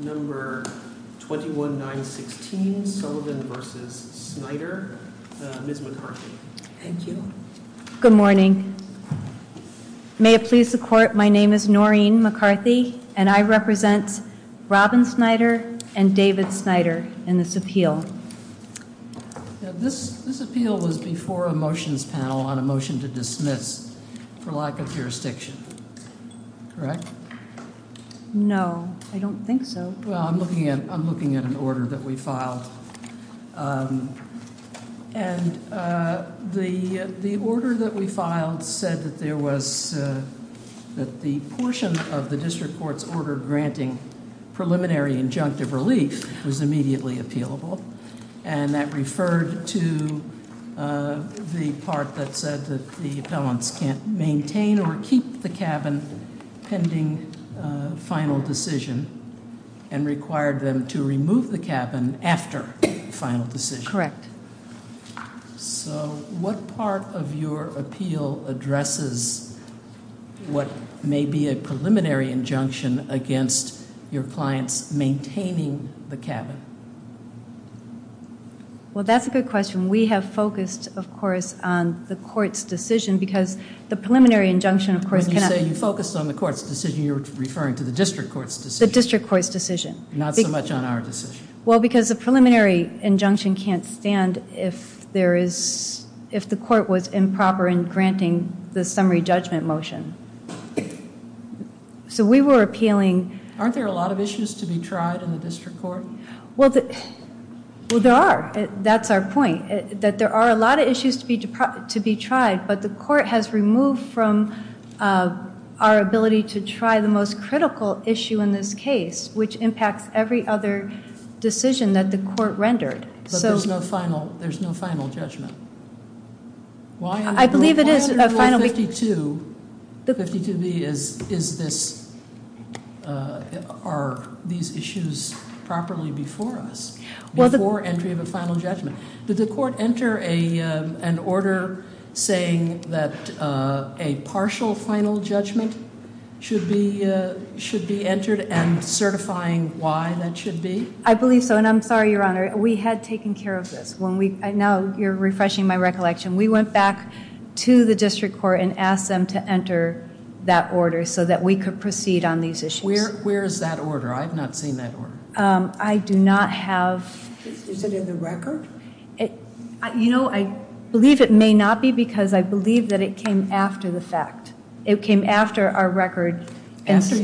21-916 Sullivan v. Snider, Ms. McCarthy. Thank you. Good morning. May it please the court, my name is Noreen McCarthy and I represent Robin Snider and David Snider in this appeal. This appeal was before a motions panel on a motion to dismiss for lack of jurisdiction, correct? No, I don't think so. Well, I'm looking at an order that we filed and the order that we filed said that there was, that the portion of the district court's order granting preliminary injunctive relief was immediately appealable and that referred to the part that said that the appellants can't maintain or keep the cabin pending final decision and required them to remove the cabin after final decision. Correct. So what part of your appeal addresses what may be a preliminary injunction against your clients maintaining the cabin? Well, that's a good question. We have focused, of course, on the court's decision because the preliminary injunction of course cannot... When you say you focused on the court's decision, you're referring to the district court's decision. The district court's decision. Not so much on our decision. Well, because the preliminary injunction can't stand if there is, if the court was improper in granting the summary judgment motion. So we were appealing... Aren't there a lot of issues to be tried in the district court? Well, there are. That's our point, that there are a lot of issues to be tried, but the court has removed from our ability to try the most critical issue in this case, which impacts every other decision that the court rendered. So there's no final judgment. I believe it is a final... 52B, are these issues properly before us, before entry of a final judgment? Did the court enter an order saying that a partial final judgment should be entered and certifying why that should be? I believe so, and I'm sorry, Your Honor, we had taken care of this. Now you're refreshing my to enter that order so that we could proceed on these issues. Where is that order? I've not seen that order. I do not have... Is it in the record? You know, I believe it may not be because I believe that it came after the fact. It came after our record, after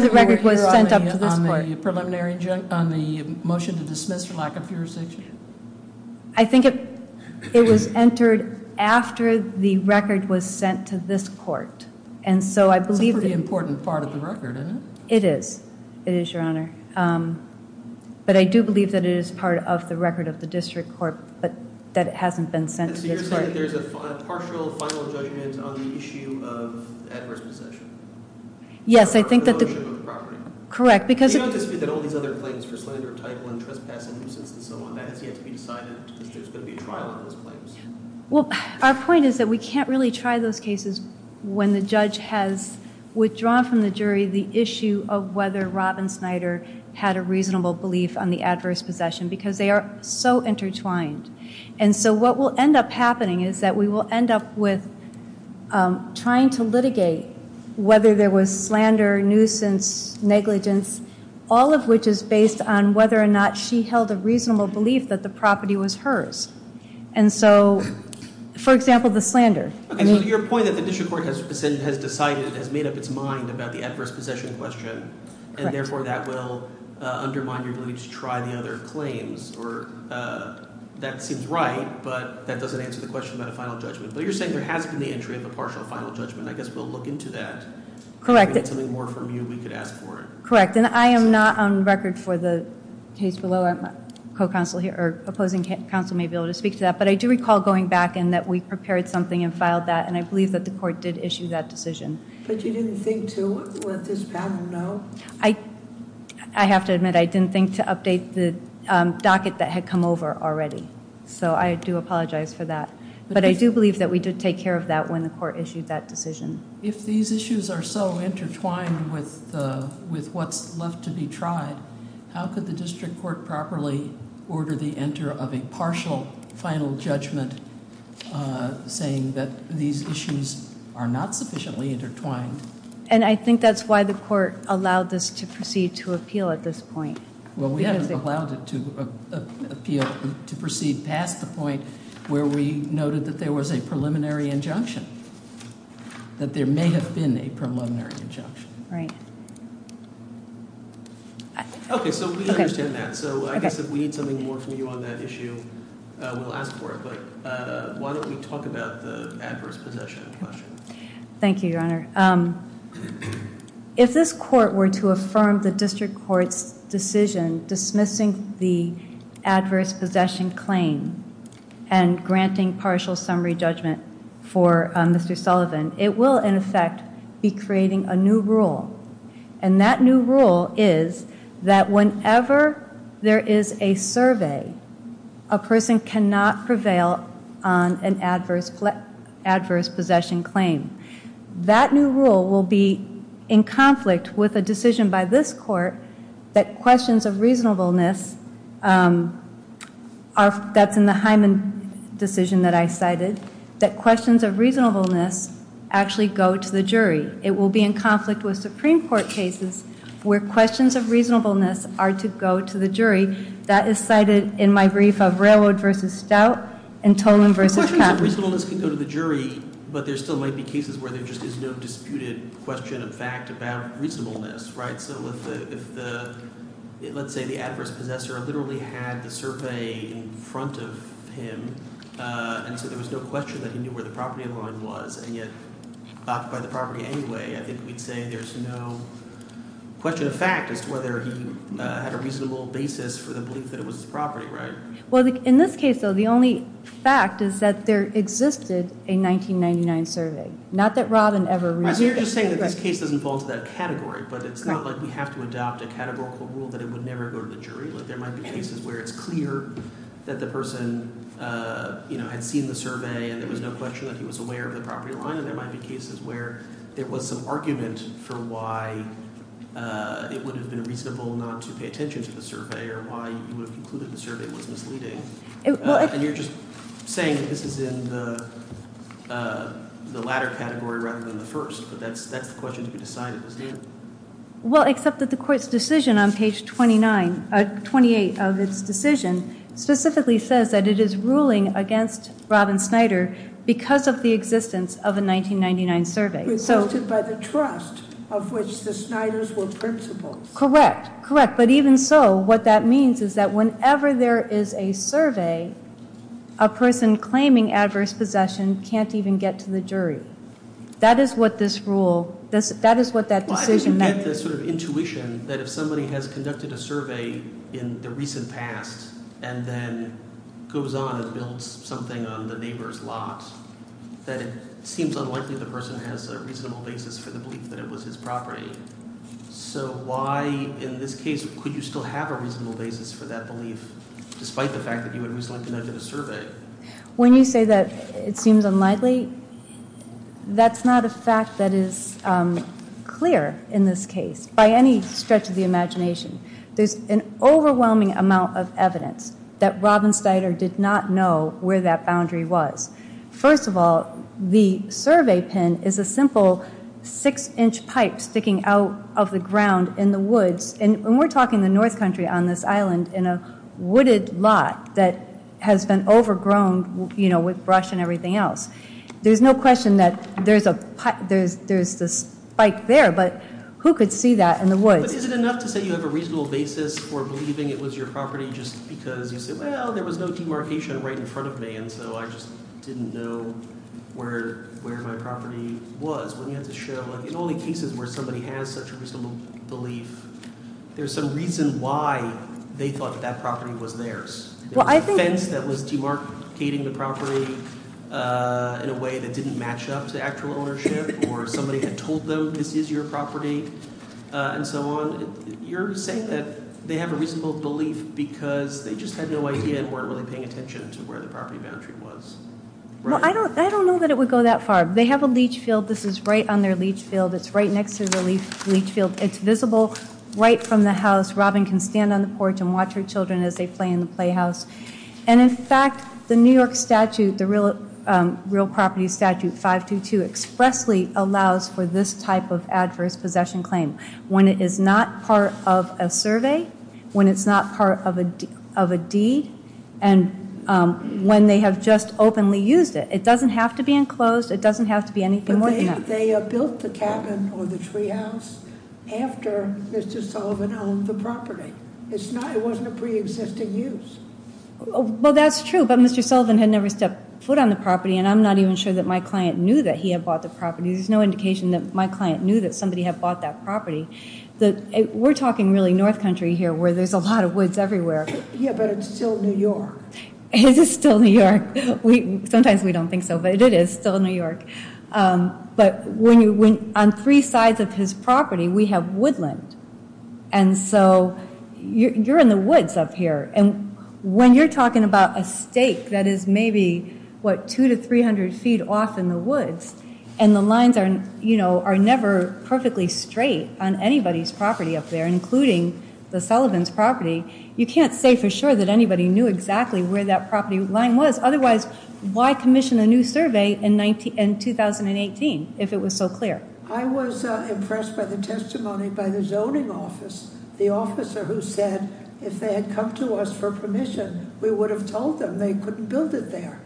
the record was sent up to this court. On the motion to dismiss for lack of jurisdiction? I think it was entered after the motion was sent up to this court, and so I believe... It's a pretty important part of the record, isn't it? It is, it is, Your Honor, but I do believe that it is part of the record of the district court, but that it hasn't been sent to this court. So you're saying there's a partial final judgment on the issue of adverse possession? Yes, I think that the... On the motion on the property? Correct, because... You don't dispute that all these other claims for slander, titling, trespassing, nuisance, and so on, that has yet to be decided. Is there going to be a trial on those claims? Well, our point is that we can't really try those cases when the judge has withdrawn from the jury the issue of whether Robin Snyder had a reasonable belief on the adverse possession, because they are so intertwined. And so what will end up happening is that we will end up with trying to litigate whether there was slander, nuisance, negligence, all of which is based on whether or not she held a reasonable belief that the property was hers. And so, for example, the slander. Okay, so your point that the district court has decided, has made up its mind about the adverse possession question, and therefore that will undermine your belief to try the other claims, or that seems right, but that doesn't answer the question about a final judgment. But you're saying there has been the entry of a partial final judgment. I guess we'll look into that. Correct. If we get something more from you, we could ask for it. Correct, and I am not on record for the case below. Opposing counsel may be able to speak to that, but I do recall going back and that we prepared something and filed that, and I believe that the court did issue that decision. But you didn't think to let this panel know? I have to admit, I didn't think to update the docket that had come over already. So I do apologize for that. But I do believe that we did take care of that when the court issued that decision. If these issues are so intertwined with what's left to be tried, how could the district court properly order the enter of a partial final judgment, saying that these issues are not sufficiently intertwined? And I think that's why the court allowed this to proceed to appeal at this point. Well, we haven't allowed it to appeal to proceed past the point where we noted that there was a preliminary injunction. That there may have been a preliminary injunction, right? Okay, so we understand that. So I guess if we need something more from you on that issue, we'll ask for it. But why don't we talk about the adverse possession question? Thank you, Your Honor. If this court were to affirm the district court's decision dismissing the adverse possession claim and granting partial summary judgment for Mr. Sullivan, it will, in effect, be creating a new rule. And that new rule is that whenever there is a survey, a person cannot prevail on an adverse possession claim. That new rule will be in conflict with a decision by this court that questions of reasonableness, that's in the Hyman decision that I cited, that questions of reasonableness actually go to the jury. It will be in conflict with Supreme Court cases where questions of reasonableness are to go to the jury. That is cited in my brief of Railroad v. Stout and Tolan v. Caput. Reasonableness can go to the jury, but there still might be cases where there just is no disputed question of fact about reasonableness, right? So if the, let's say the adverse possessor literally had the survey in front of him, and so there was no question that he knew where the property in line was, and yet backed by the property anyway, I think we'd say there's no question of fact as to whether he had a reasonable basis for the belief that it was his property, right? Well, in this case, though, the only fact is that there existed a 1999 survey, not that Robin ever reviewed it. You're just saying that this case doesn't fall into that category, but it's not like we have to adopt a categorical rule that it would never go to the jury. Like, there might be cases where it's clear that the person, you know, had seen the survey and there was no question that he was aware of the property line. And there might be cases where there was some argument for why it would have been reasonable not to pay attention to the survey, or why you would have concluded the survey was misleading. And you're just saying that this is in the latter category rather than the first, but that's the question to be decided, isn't it? Well, except that the court's decision on page 28 of its decision specifically says that it is ruling against Robin Snyder because of the existence of a 1999 survey. It's listed by the trust of which the Snyders were principals. Correct, correct. But even so, what that means is that whenever there is a survey, a person claiming adverse possession can't even get to the jury. That is what this rule, that is what that decision- Why does it get this sort of intuition that if somebody has conducted a survey in the recent past and then goes on and builds something on the neighbor's lot, that it seems unlikely the person has a reasonable basis for the belief that it was his property. So why, in this case, could you still have a reasonable basis for that belief, despite the fact that you had recently conducted a survey? When you say that it seems unlikely, that's not a fact that is clear in this case, by any stretch of the imagination. There's an overwhelming amount of evidence that Robin Snyder did not know where that boundary was. First of all, the survey pin is a simple six inch pipe sticking out of the ground in the woods. And we're talking the north country on this island in a wooded lot that has been overgrown with brush and everything else. There's no question that there's this spike there, but who could see that in the woods? But is it enough to say you have a reasonable basis for believing it was your property just because you said, well, there was no demarcation right in front of me. And so I just didn't know where my property was. When you had to show, in only cases where somebody has such a reasonable belief, there's some reason why they thought that that property was theirs. It was a fence that was demarcating the property in a way that didn't match up to actual ownership, or somebody had told them this is your property, and so on. You're saying that they have a reasonable belief because they just had no idea and weren't really paying attention to where the property boundary was. Well, I don't know that it would go that far. They have a leach field. This is right on their leach field. It's right next to the leach field. It's visible right from the house. Robin can stand on the porch and watch her children as they play in the playhouse. And in fact, the New York statute, the real property statute 522, expressly allows for this type of adverse possession claim. When it is not part of a survey, when it's not part of a deed, and when they have just openly used it, it doesn't have to be enclosed, it doesn't have to be anything more than that. But they built the cabin or the tree house after Mr. Sullivan owned the property. It wasn't a pre-existing use. Well, that's true, but Mr. Sullivan had never stepped foot on the property, and I'm not even sure that my client knew that he had bought the property. There's no indication that my client knew that somebody had bought that property. We're talking really North Country here, where there's a lot of woods everywhere. Yeah, but it's still New York. It is still New York. Sometimes we don't think so, but it is still New York. But on three sides of his property, we have woodland. And so you're in the woods up here. And when you're talking about a stake that is maybe, what, 200 to 300 feet off in the woods, and the lines are never perfectly straight on anybody's property up there, including the Sullivan's property, you can't say for sure that anybody knew exactly where that property line was. Otherwise, why commission a new survey in 2018, if it was so clear? I was impressed by the testimony by the zoning office, the officer who said if they had come to us for permission, we would have told them they couldn't build it there.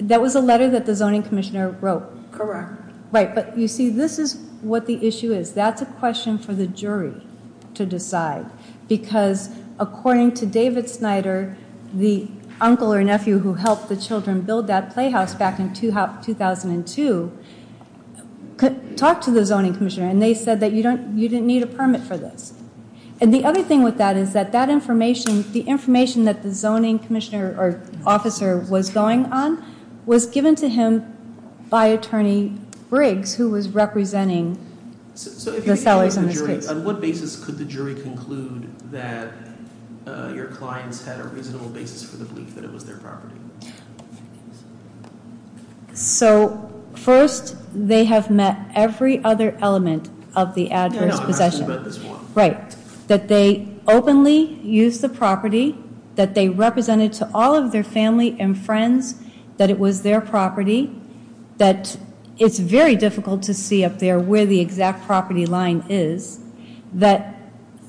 That was a letter that the zoning commissioner wrote? Correct. Right, but you see, this is what the issue is. That's a question for the jury to decide. Because according to David Snyder, the uncle or nephew who helped the children build that playhouse back in 2002 talked to the zoning commissioner. And they said that you didn't need a permit for this. And the other thing with that is that the information that the zoning commissioner or officer was going on was given to him by Attorney Briggs, who was representing. So if you're a jury, on what basis could the jury conclude that your clients had a reasonable basis for the belief that it was their property? So first, they have met every other element of the adverse possession. Right, that they openly used the property, that they represented to all of their family and friends that it was their property. That it's very difficult to see up there where the exact property line is. That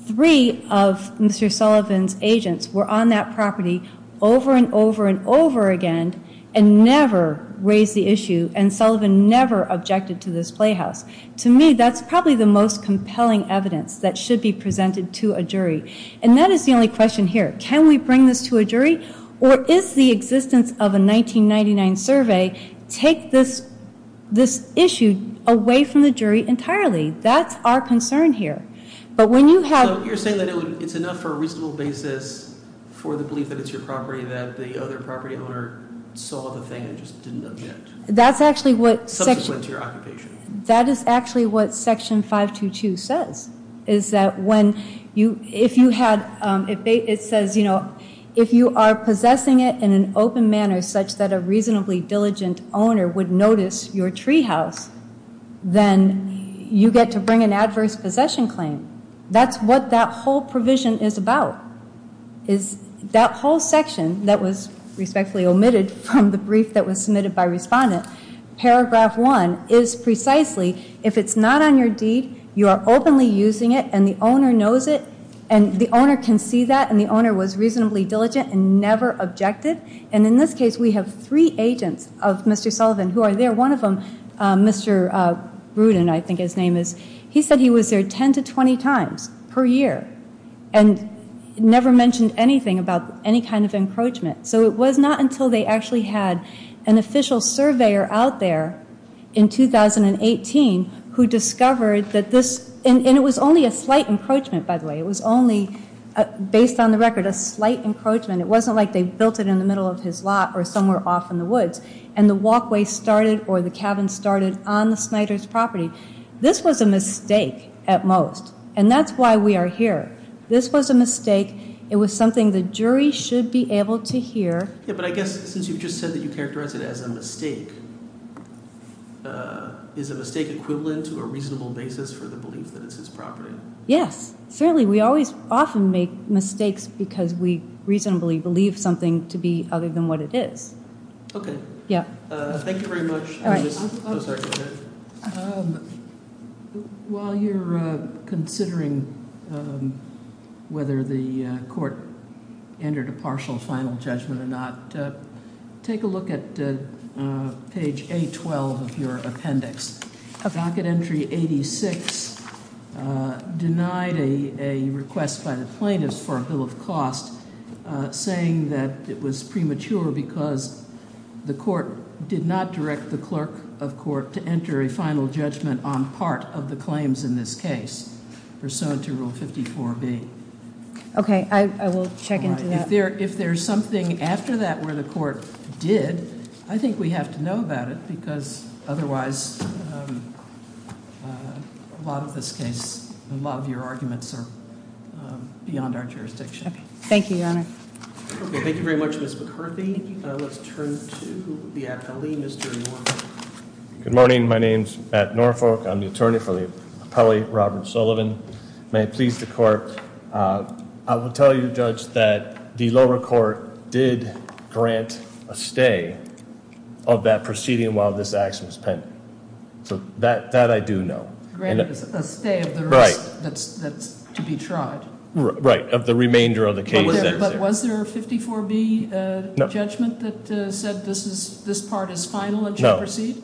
three of Mr. Sullivan's agents were on that property over and over and over again and never raised the issue and Sullivan never objected to this playhouse. To me, that's probably the most compelling evidence that should be presented to a jury. And that is the only question here. Can we bring this to a jury? Or is the existence of a 1999 survey, take this issue away from the jury entirely? That's our concern here. But when you have- You're saying that it's enough for a reasonable basis for the belief that it's your property, that the other property owner saw the thing and just didn't object. That's actually what- Subsequent to your occupation. That is actually what section 522 says. Is that when you, if you had, it says, you know, if you are possessing it in an open manner, such that a reasonably diligent owner would notice your treehouse, then you get to bring an adverse possession claim. That's what that whole provision is about. Is that whole section that was respectfully omitted from the brief that was submitted by respondent. Paragraph 1 is precisely, if it's not on your deed, you are openly using it and the owner knows it. And the owner can see that and the owner was reasonably diligent and never objected. And in this case, we have three agents of Mr. Sullivan who are there. One of them, Mr. Bruden, I think his name is. He said he was there 10 to 20 times per year and never mentioned anything about any kind of encroachment. So it was not until they actually had an official surveyor out there in 2018 who discovered that this- And it was only a slight encroachment, by the way. It was only, based on the record, a slight encroachment. It wasn't like they built it in the middle of his lot or somewhere off in the woods. And the walkway started or the cabin started on the Snyder's property. This was a mistake at most. And that's why we are here. This was a mistake. It was something the jury should be able to hear. Yeah, but I guess since you've just said that you characterize it as a mistake, is a mistake equivalent to a reasonable basis for the belief that it's his property? Yes, certainly. We always often make mistakes because we reasonably believe something to be other than what it is. Okay. Yeah. Thank you very much. All right. I'm sorry, go ahead. While you're considering whether the court entered a partial final judgment or not, take a look at page A12 of your appendix. Docket entry 86 denied a request by the plaintiffs for a bill of cost saying that it was premature because the court did not direct the clerk of court to enter a final judgment on part of the claims in this case. Pursuant to rule 54B. Okay, I will check into that. If there's something after that where the court did, I think we have to know about it because otherwise a lot of this case, a lot of your arguments are beyond our jurisdiction. Thank you, Your Honor. Okay, thank you very much, Ms. McCarthy. Let's turn to the appellee, Mr. Norfolk. Good morning, my name's Matt Norfolk. I'm the attorney for the appellee, Robert Sullivan. May it please the court, I will tell you, Judge, that the lower court did grant a stay of that proceeding while this action was pending. So that I do know. Granted a stay of the risk that's to be tried. Right, of the remainder of the case. But was there a 54B judgment that said this part is final and should proceed?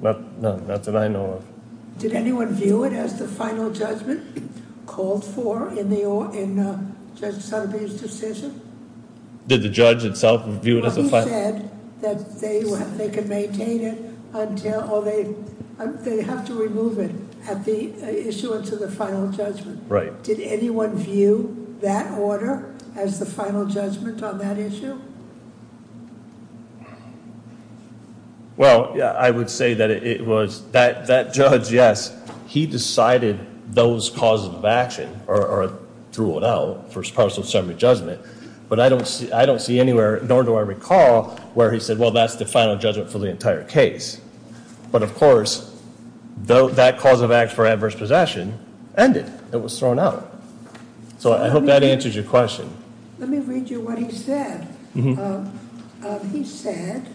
No, not that I know of. Did anyone view it as the final judgment called for in Judge Sutterby's decision? Did the judge itself view it as a final? He said that they can maintain it until, or they have to remove it at the issuance of the final judgment. Right. Did anyone view that order as the final judgment on that issue? Well, yeah, I would say that it was, that judge, yes, he decided those causes of action, or drew it out for partial assembly judgment, but I don't see anywhere, nor do I recall where he said, well, that's the final judgment for the entire case. But of course, that cause of act for adverse possession ended. It was thrown out. So I hope that answers your question. Let me read you what he said. He said,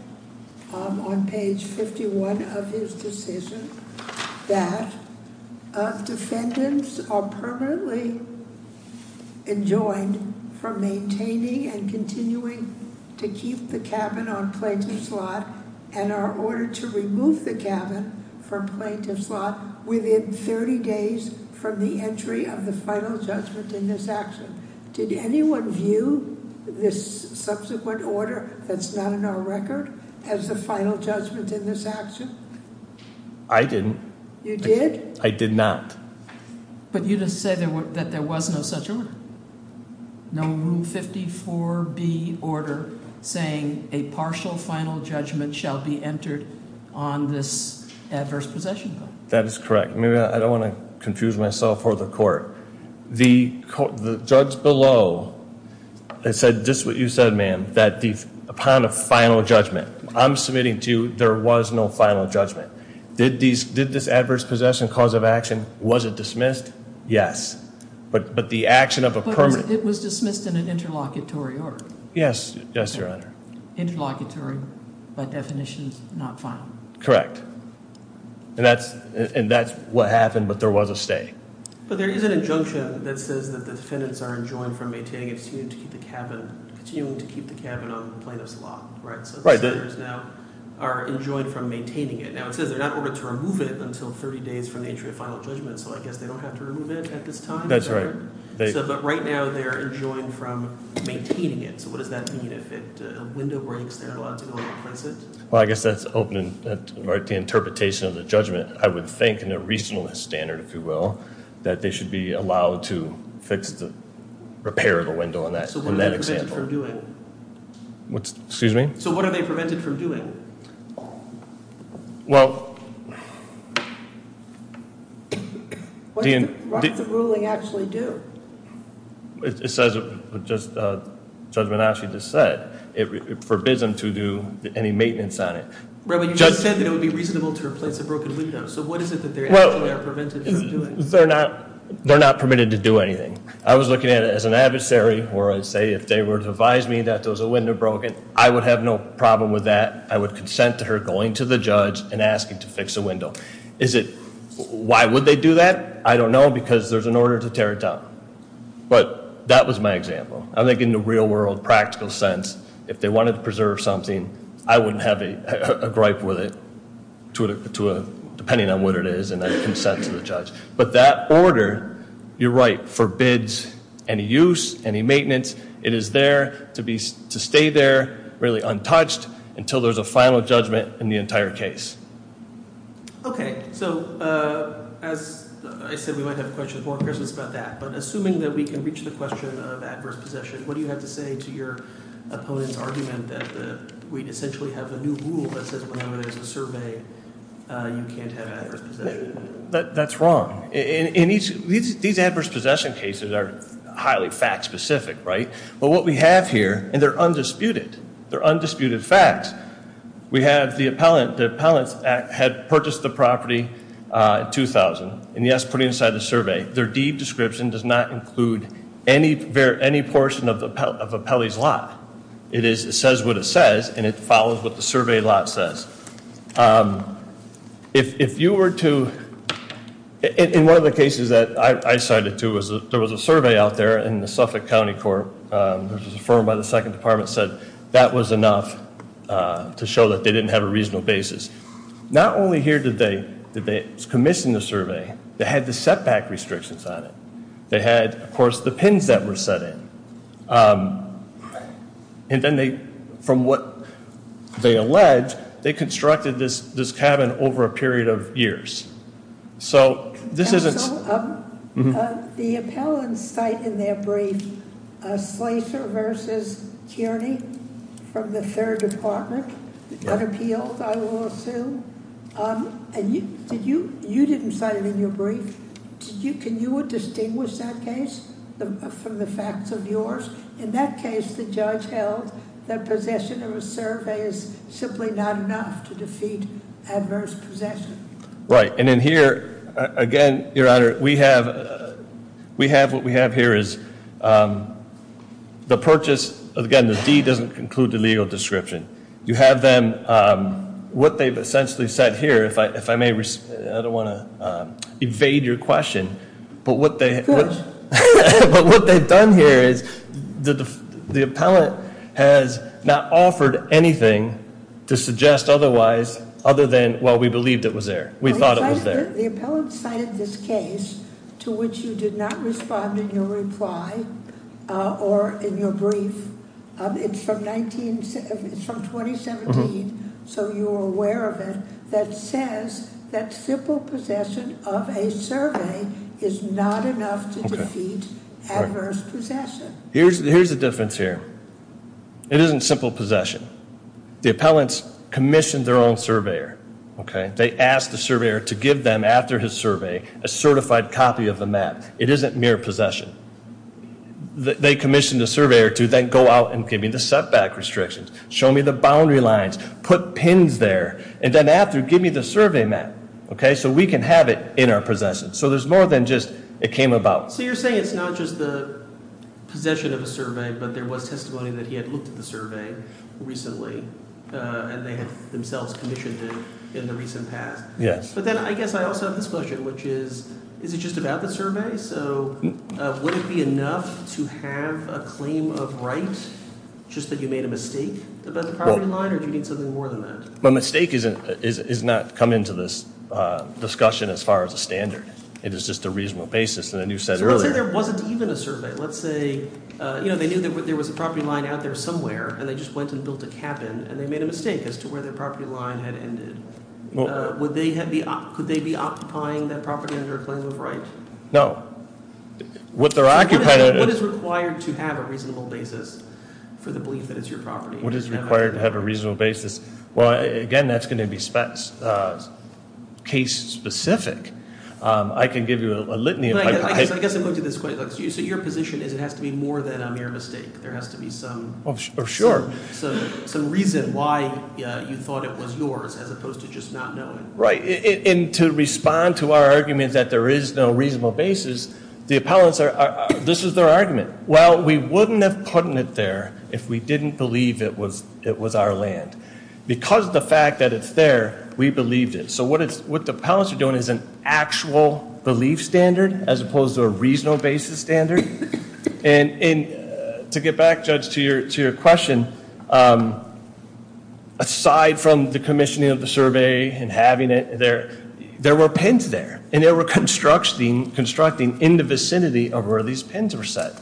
on page 51 of his decision, that defendants are permanently enjoined for maintaining and continuing to keep the cabin on plates and slot. And are ordered to remove the cabin from plaintiff's lot within 30 days from the entry of the final judgment in this action. Did anyone view this subsequent order that's not in our record as the final judgment in this action? I didn't. You did? I did not. But you just said that there was no such order. No room 54B order saying a partial final judgment shall be entered on this adverse possession bill. That is correct. Maybe I don't want to confuse myself or the court. The judge below said just what you said, ma'am, that upon a final judgment. I'm submitting to you, there was no final judgment. Did this adverse possession cause of action, was it dismissed? Yes. But the action of a permanent- It was dismissed in an interlocutory order. Yes, yes, your honor. Interlocutory, by definition, not final. Correct, and that's what happened, but there was a stay. But there is an injunction that says that the defendants are enjoined from maintaining and continuing to keep the cabin on plaintiff's lot, right? So the senators now are enjoined from maintaining it. Now it says they're not ordered to remove it until 30 days from the entry of final judgment. So I guess they don't have to remove it at this time. That's right. But right now, they're enjoined from maintaining it. So what does that mean if a window breaks, they're allowed to go and replace it? Well, I guess that's opening the interpretation of the judgment. I would think in a reasonableness standard, if you will, that they should be allowed to fix the repair of the window on that example. So what are they prevented from doing? What's, excuse me? So what are they prevented from doing? Well, do you know what the ruling actually do? It says it just judgment actually just said it forbids them to do any maintenance on it. But you just said that it would be reasonable to replace a broken window. So what is it that they're actually prevented from doing? They're not permitted to do anything. I was looking at it as an adversary where I say if they were to advise me that there was a window broken, I would have no problem with that. I would consent to her going to the judge and asking to fix a window. Is it, why would they do that? I don't know because there's an order to tear it down. But that was my example. I think in the real world practical sense, if they wanted to preserve something, I wouldn't have a gripe with it depending on what it is and I'd consent to the judge. But that order, you're right, forbids any use, any maintenance. It is there to stay there really untouched until there's a final judgment in the entire case. Okay. So as I said, we might have questions more in person about that. But assuming that we can reach the question of adverse possession, what do you have to say to your opponent's argument that we essentially have a new rule that says whenever there's a survey, you can't have adverse possession? That's wrong. In each, these adverse possession cases are highly fact specific, right? But what we have here, and they're undisputed, they're undisputed facts. We have the appellant, the appellant had purchased the property in 2000 and he has put it inside the survey. Their deed description does not include any portion of the appellee's lot. It is, it says what it says and it follows what the survey lot says. If you were to, in one of the cases that I cited too, there was a survey out there in the Suffolk County Court, which was affirmed by the second department, said that was enough to show that they didn't have a reasonable basis. Not only here did they, it was commissioned in the survey, they had the setback restrictions on it. They had, of course, the pins that were set in. And then they, from what they allege, they constructed this cabin over a period of years. So this isn't. The appellants cite in their brief a Slater versus Kearney from the third department, unappealed I will assume. And you, did you, you didn't cite it in your brief. Can you distinguish that case from the facts of yours? In that case, the judge held that possession of a survey is simply not enough to defeat adverse possession. Right, and in here, again, your honor, we have what we have here is the purchase, again, the deed doesn't include the legal description. You have them, what they've essentially said here, if I may, I don't want to evade your question. But what they've done here is the appellant has not offered anything to suggest otherwise other than, well, we believed it was there. We thought it was there. The appellant cited this case to which you did not respond in your reply or in your brief. It's from 2017, so you're aware of it, that says that simple possession of a survey is not enough to defeat adverse possession. Here's the difference here. It isn't simple possession. The appellants commissioned their own surveyor, okay? They asked the surveyor to give them, after his survey, a certified copy of the map. It isn't mere possession. They commissioned a surveyor to then go out and give me the setback restrictions, show me the boundary lines, put pins there, and then after, give me the survey map. Okay, so we can have it in our possession. So there's more than just, it came about. So you're saying it's not just the possession of a survey, but there was testimony that he had looked at the survey recently, and they had themselves commissioned it in the recent past. Yes. But then I guess I also have this question, which is, is it just about the survey? So would it be enough to have a claim of right, just that you made a mistake about the property line, or do you need something more than that? My mistake is not come into this discussion as far as a standard. It is just a reasonable basis, and then you said earlier- So let's say there wasn't even a survey. Let's say they knew there was a property line out there somewhere, and they just went and built a cabin, and they made a mistake as to where their property line had ended. Could they be occupying that property under a claim of right? No. What they're occupying- What is required to have a reasonable basis for the belief that it's your property? What is required to have a reasonable basis? Well, again, that's going to be case specific. I can give you a litany of- I guess I'm going to this question. So your position is it has to be more than a mere mistake. There has to be some- Sure. Some reason why you thought it was yours, as opposed to just not knowing. Right. And to respond to our argument that there is no reasonable basis, the appellants are- This is their argument. Well, we wouldn't have put it there if we didn't believe it was our land. Because of the fact that it's there, we believed it. So what the appellants are doing is an actual belief standard, as opposed to a reasonable basis standard. And to get back, Judge, to your question, aside from the commissioning of the survey and having it there, there were pins there. And they were constructing in the vicinity of where these pins were set.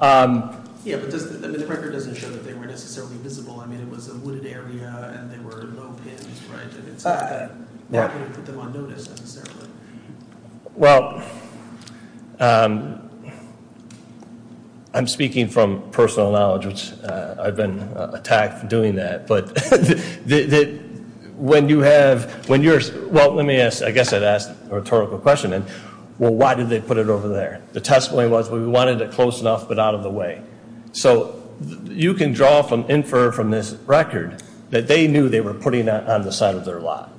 Yeah, but the record doesn't show that they were necessarily visible. I mean, it was a wooded area and there were no pins, right? And it's not that- Yeah. We wouldn't put them on notice, necessarily. Well, I'm speaking from personal knowledge, which I've been attacked for doing that. But when you have- Well, let me ask, I guess I'd ask a rhetorical question. Well, why did they put it over there? The testimony was we wanted it close enough, but out of the way. So you can draw from, infer from this record that they knew they were putting it on the side of their lot.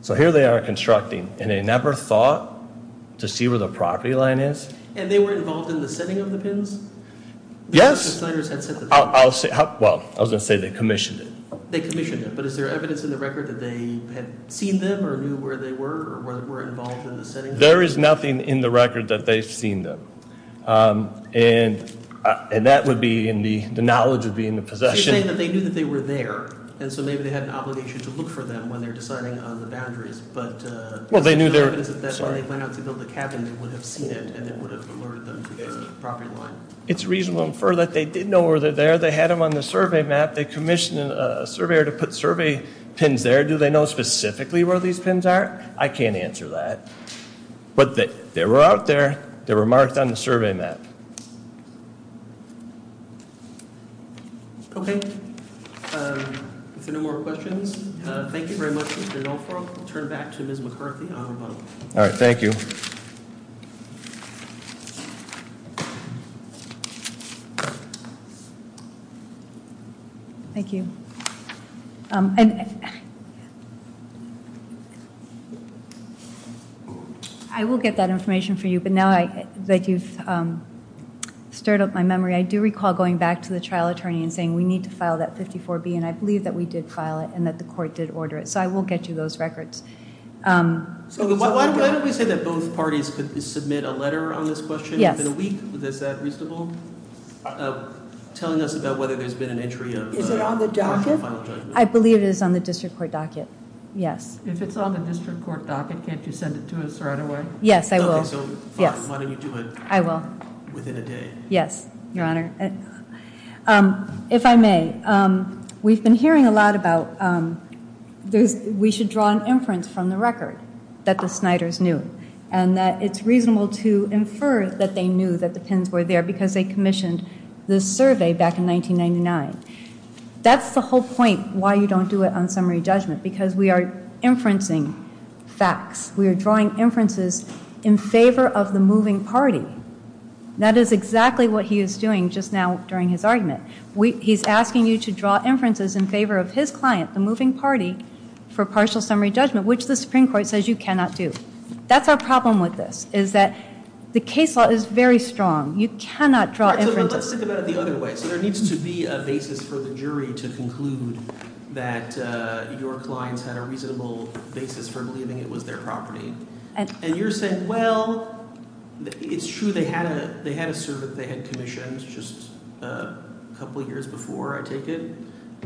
So here they are constructing, and they never thought to see where the property line is. And they were involved in the setting of the pins? Yes. The signers had set the pins. I'll say, well, I was going to say they commissioned it. They commissioned it. But is there evidence in the record that they had seen them or knew where they were or were involved in the setting? There is nothing in the record that they've seen them. And that would be in the, the knowledge would be in the possession. So you're saying that they knew that they were there, and so maybe they had an obligation to look for them when they're deciding on the boundaries, but, well, they knew there was, that's why they went out to build the cabin, they would have seen it, and it would have alerted them to the property line. It's reasonable to infer that they did know where they're there. They had them on the survey map. They commissioned a surveyor to put survey pins there. Do they know specifically where these pins are? I can't answer that. But they were out there. They were marked on the survey map. Okay. Thank you. If there are no more questions, thank you very much, Mr. Dunlap. I'll turn it back to Ms. McCarthy on rebuttal. All right. Thank you. Thank you. I will get that information for you. But now that you've stirred up my memory, I do recall going back to the trial attorney and saying, we need to file that 54-B, and I believe that we did file it and that the court did order it. So I will get you those records. So why don't we say that both parties could submit a letter on this question in a week? Yes. Is that reasonable? Telling us about whether there's been an entry of the court's final judgment. Is it on the docket? I believe it is on the district court docket. Yes. If it's on the district court docket, can't you send it to us right away? Yes, I will. Okay, so fine. Why don't you do it within a day? Yes. Your Honor. If I may, we've been hearing a lot about we should draw an inference from the record that the Sniders knew, and that it's reasonable to infer that they knew that the pins were there because they commissioned the survey back in 1999. That's the whole point why you don't do it on summary judgment, because we are inferencing facts. We are drawing inferences in favor of the moving party. That is exactly what he is doing just now during his argument. He's asking you to draw inferences in favor of his client, the moving party, for partial summary judgment, which the Supreme Court says you cannot do. That's our problem with this, is that the case law is very strong. You cannot draw inferences. All right, so let's think about it the other way. So there needs to be a basis for the jury to conclude that your clients had a reasonable basis for believing it was their property. And you're saying, well, it's true they had a survey they had commissioned just a couple years before, I take it,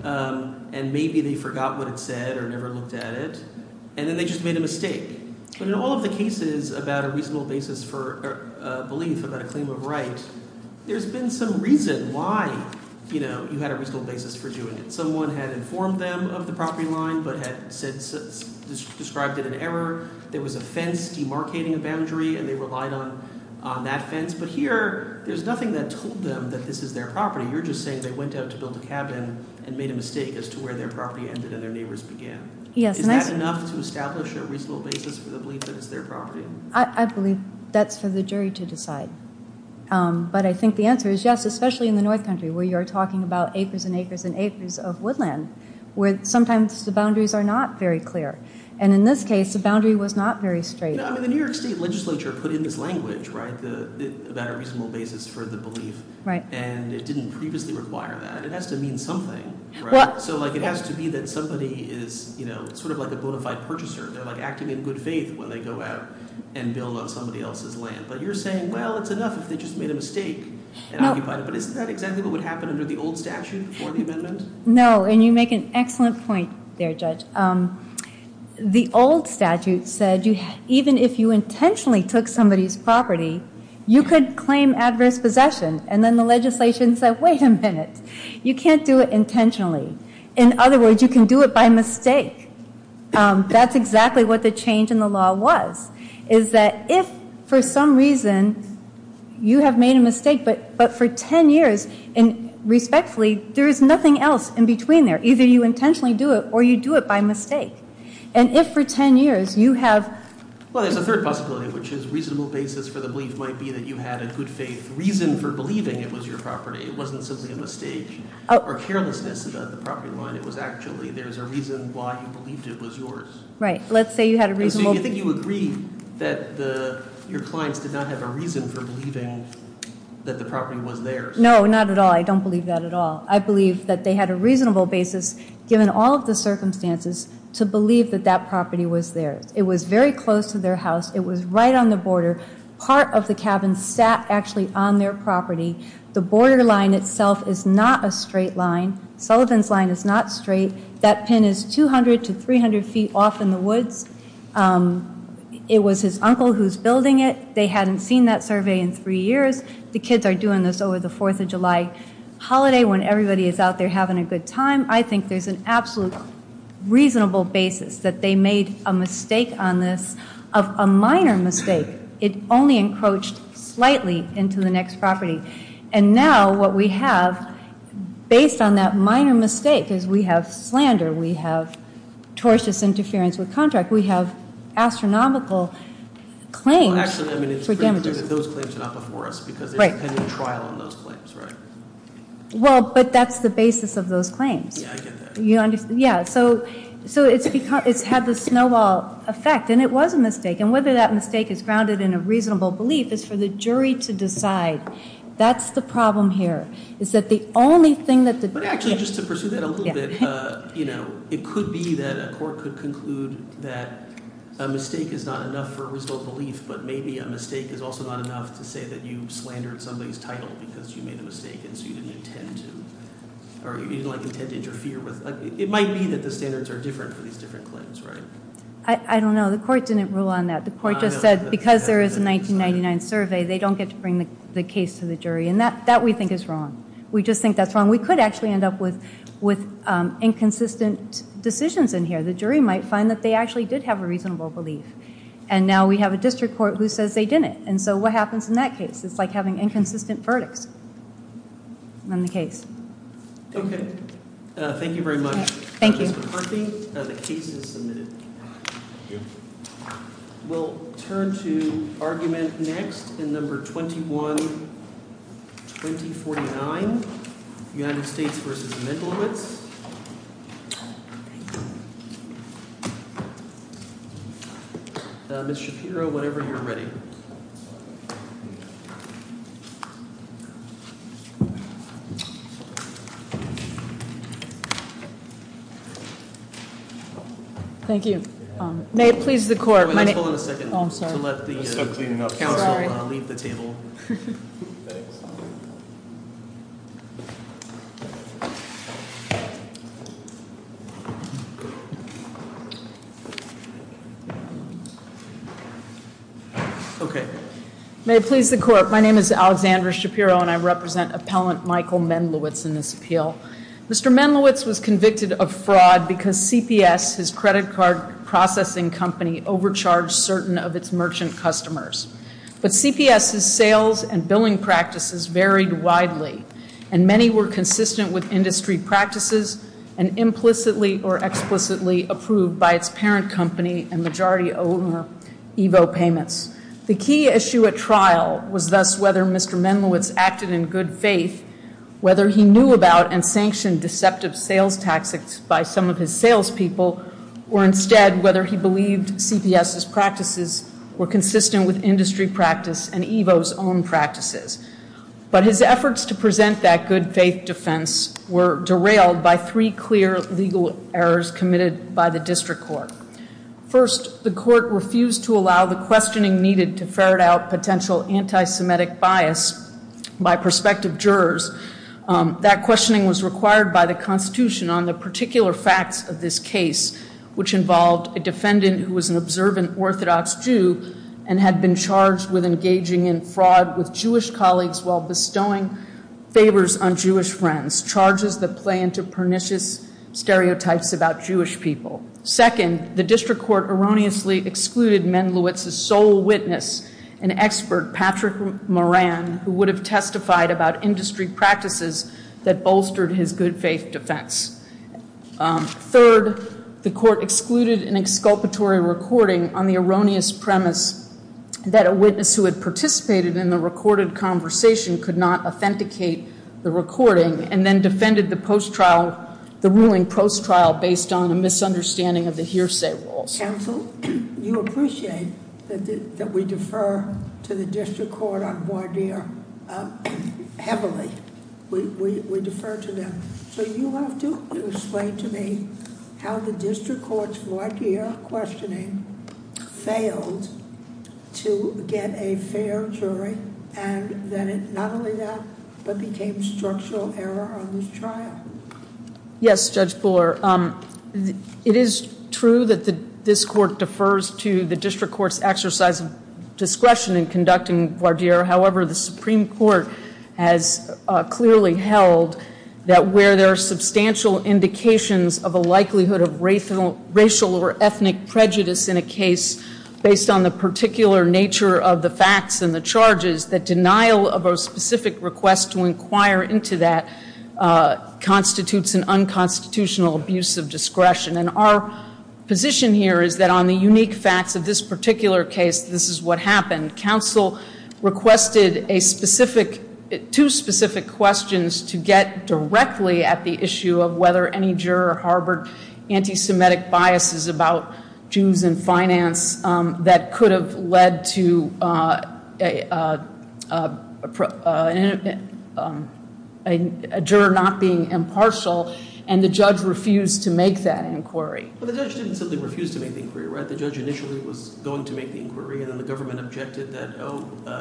and maybe they forgot what it said or never looked at it, and then they just made a mistake. But in all of the cases about a reasonable basis for belief about a claim of right, there's been some reason why you had a reasonable basis for doing it. Someone had informed them of the property line but had described it an error. There was a fence demarcating a boundary and they relied on that fence. But here, there's nothing that told them that this is their property. You're just saying they went out to build a cabin and made a mistake as to where their property ended and their neighbors began. Is that enough to establish a reasonable basis for the belief that it's their property? I believe that's for the jury to decide. But I think the answer is yes, especially in the North Country where you're talking about acres and acres and acres of woodland where sometimes the boundaries are not very clear. And in this case, the boundary was not very straight. The New York State legislature put in this language about a reasonable basis for the belief, and it didn't previously require that. It has to mean something. So it has to be that somebody is sort of like a bona fide purchaser. They're acting in good faith when they go out and build on somebody else's land. But you're saying, well, it's enough if they just made a mistake and occupied it. But isn't that exactly what would happen under the old statute before the amendment? No, and you make an excellent point there, Judge. The old statute said even if you intentionally took somebody's property, you could claim adverse possession. And then the legislation said, wait a minute. You can't do it intentionally. In other words, you can do it by mistake. That's exactly what the change in the law was, is that if for some reason you have made a mistake, but for 10 years, and respectfully, there is nothing else in between there. Either you intentionally do it or you do it by mistake. And if for 10 years you have- Well, there's a third possibility, which is reasonable basis for the belief might be that you had a good faith reason for believing it was your property. It wasn't simply a mistake or carelessness about the property line. It was actually there's a reason why you believed it was yours. Right. Let's say you had a reasonable- So you think you agree that your clients did not have a reason for believing that the property was theirs. No, not at all. I don't believe that at all. I believe that they had a reasonable basis, given all of the circumstances, to believe that that property was theirs. It was very close to their house. It was right on the border. Part of the cabin sat actually on their property. The border line itself is not a straight line. Sullivan's line is not straight. That pin is 200 to 300 feet off in the woods. It was his uncle who's building it. They hadn't seen that survey in three years. The kids are doing this over the Fourth of July holiday when everybody is out there having a good time. I think there's an absolute reasonable basis that they made a mistake on this, of a minor mistake. It only encroached slightly into the next property. And now what we have, based on that minor mistake, is we have slander. We have tortious interference with contract. We have astronomical claims for damages. Well, actually, I mean, it's pretty clear that those claims are not before us because there's a pending trial on those claims, right? Well, but that's the basis of those claims. Yeah, I get that. Yeah, so it's had the snowball effect, and it was a mistake. And whether that mistake is grounded in a reasonable belief is for the jury to decide. That's the problem here, is that the only thing that the jury— But actually, just to pursue that a little bit, you know, it could be that a court could conclude that a mistake is not enough for a reasonable belief, but maybe a mistake is also not enough to say that you slandered somebody's title because you made a mistake, and so you didn't intend to interfere with it. It might be that the standards are different for these different claims, right? I don't know. The court didn't rule on that. The court just said because there is a 1999 survey, they don't get to bring the case to the jury, and that we think is wrong. We just think that's wrong. We could actually end up with inconsistent decisions in here. The jury might find that they actually did have a reasonable belief. And now we have a district court who says they didn't. And so what happens in that case? It's like having inconsistent verdicts on the case. Okay. Thank you very much. Thank you. Justice McCarthy, the case is submitted. Thank you. We'll turn to argument next in No. 21-2049, United States v. Mendelowitz. Ms. Shapiro, whenever you're ready. Thank you. May it please the court. Let's hold on a second. Oh, I'm sorry. To let the council leave the table. Sorry. Thanks. Okay. May it please the court. My name is Alexandra Shapiro, and I represent Appellant Michael Mendelowitz in this appeal. Mr. Mendelowitz was convicted of fraud because CPS, his credit card processing company, overcharged certain of its merchant customers. But CPS's sales and billing practices varied widely, and many were consistent with industry practices and implicitly or explicitly approved by its parent company and majority owner Evo Payments. The key issue at trial was thus whether Mr. Mendelowitz acted in good faith, whether he knew about and sanctioned deceptive sales tactics by some of his salespeople, or instead whether he believed CPS's practices were consistent with industry practice and Evo's own practices. But his efforts to present that good faith defense were derailed by three clear legal errors committed by the district court. First, the court refused to allow the questioning needed to ferret out potential anti-Semitic bias by prospective jurors. That questioning was required by the Constitution on the particular facts of this case, which involved a defendant who was an observant Orthodox Jew and had been charged with engaging in fraud with Jewish colleagues while bestowing favors on Jewish friends, charges that play into pernicious stereotypes about Jewish people. Second, the district court erroneously excluded Mendelowitz's sole witness, an expert, Patrick Moran, who would have testified about industry practices that bolstered his good faith defense. Third, the court excluded an exculpatory recording on the erroneous premise that a witness who had participated in the recorded conversation could not authenticate the recording and then defended the ruling post-trial based on a misunderstanding of the hearsay rules. Counsel, you appreciate that we defer to the district court on voir dire heavily. We defer to them. So you have to explain to me how the district court's voir dire questioning failed to get a fair jury and that it not only that but became structural error on this trial. Yes, Judge Buller. It is true that this court defers to the district court's exercise of discretion in conducting voir dire. However, the Supreme Court has clearly held that where there are substantial indications of a likelihood of racial or ethnic prejudice in a case based on the particular nature of the facts and the charges, that denial of a specific request to inquire into that constitutes an unconstitutional abuse of discretion. And our position here is that on the unique facts of this particular case, this is what happened. Counsel requested two specific questions to get directly at the issue of whether any juror harbored anti-Semitic biases about Jews in finance that could have led to a juror not being impartial, and the judge refused to make that inquiry. But the judge didn't simply refuse to make the inquiry, right? The judge initially was going to make the inquiry, and then the government objected that, oh,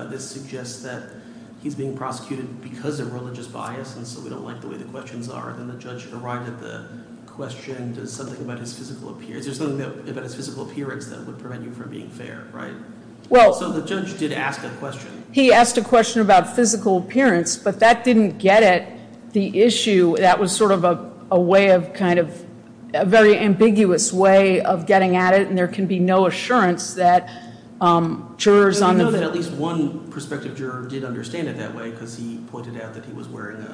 this suggests that he's being prosecuted because of religious bias and so we don't like the way the questions are. Then the judge arrived at the question, does something about his physical appearance, is there something about his physical appearance that would prevent you from being fair, right? So the judge did ask that question. He asked a question about physical appearance, but that didn't get at the issue. That was sort of a way of kind of a very ambiguous way of getting at it, and there can be no assurance that jurors on the view that We know that at least one prospective juror did understand it that way because he pointed out that he was wearing a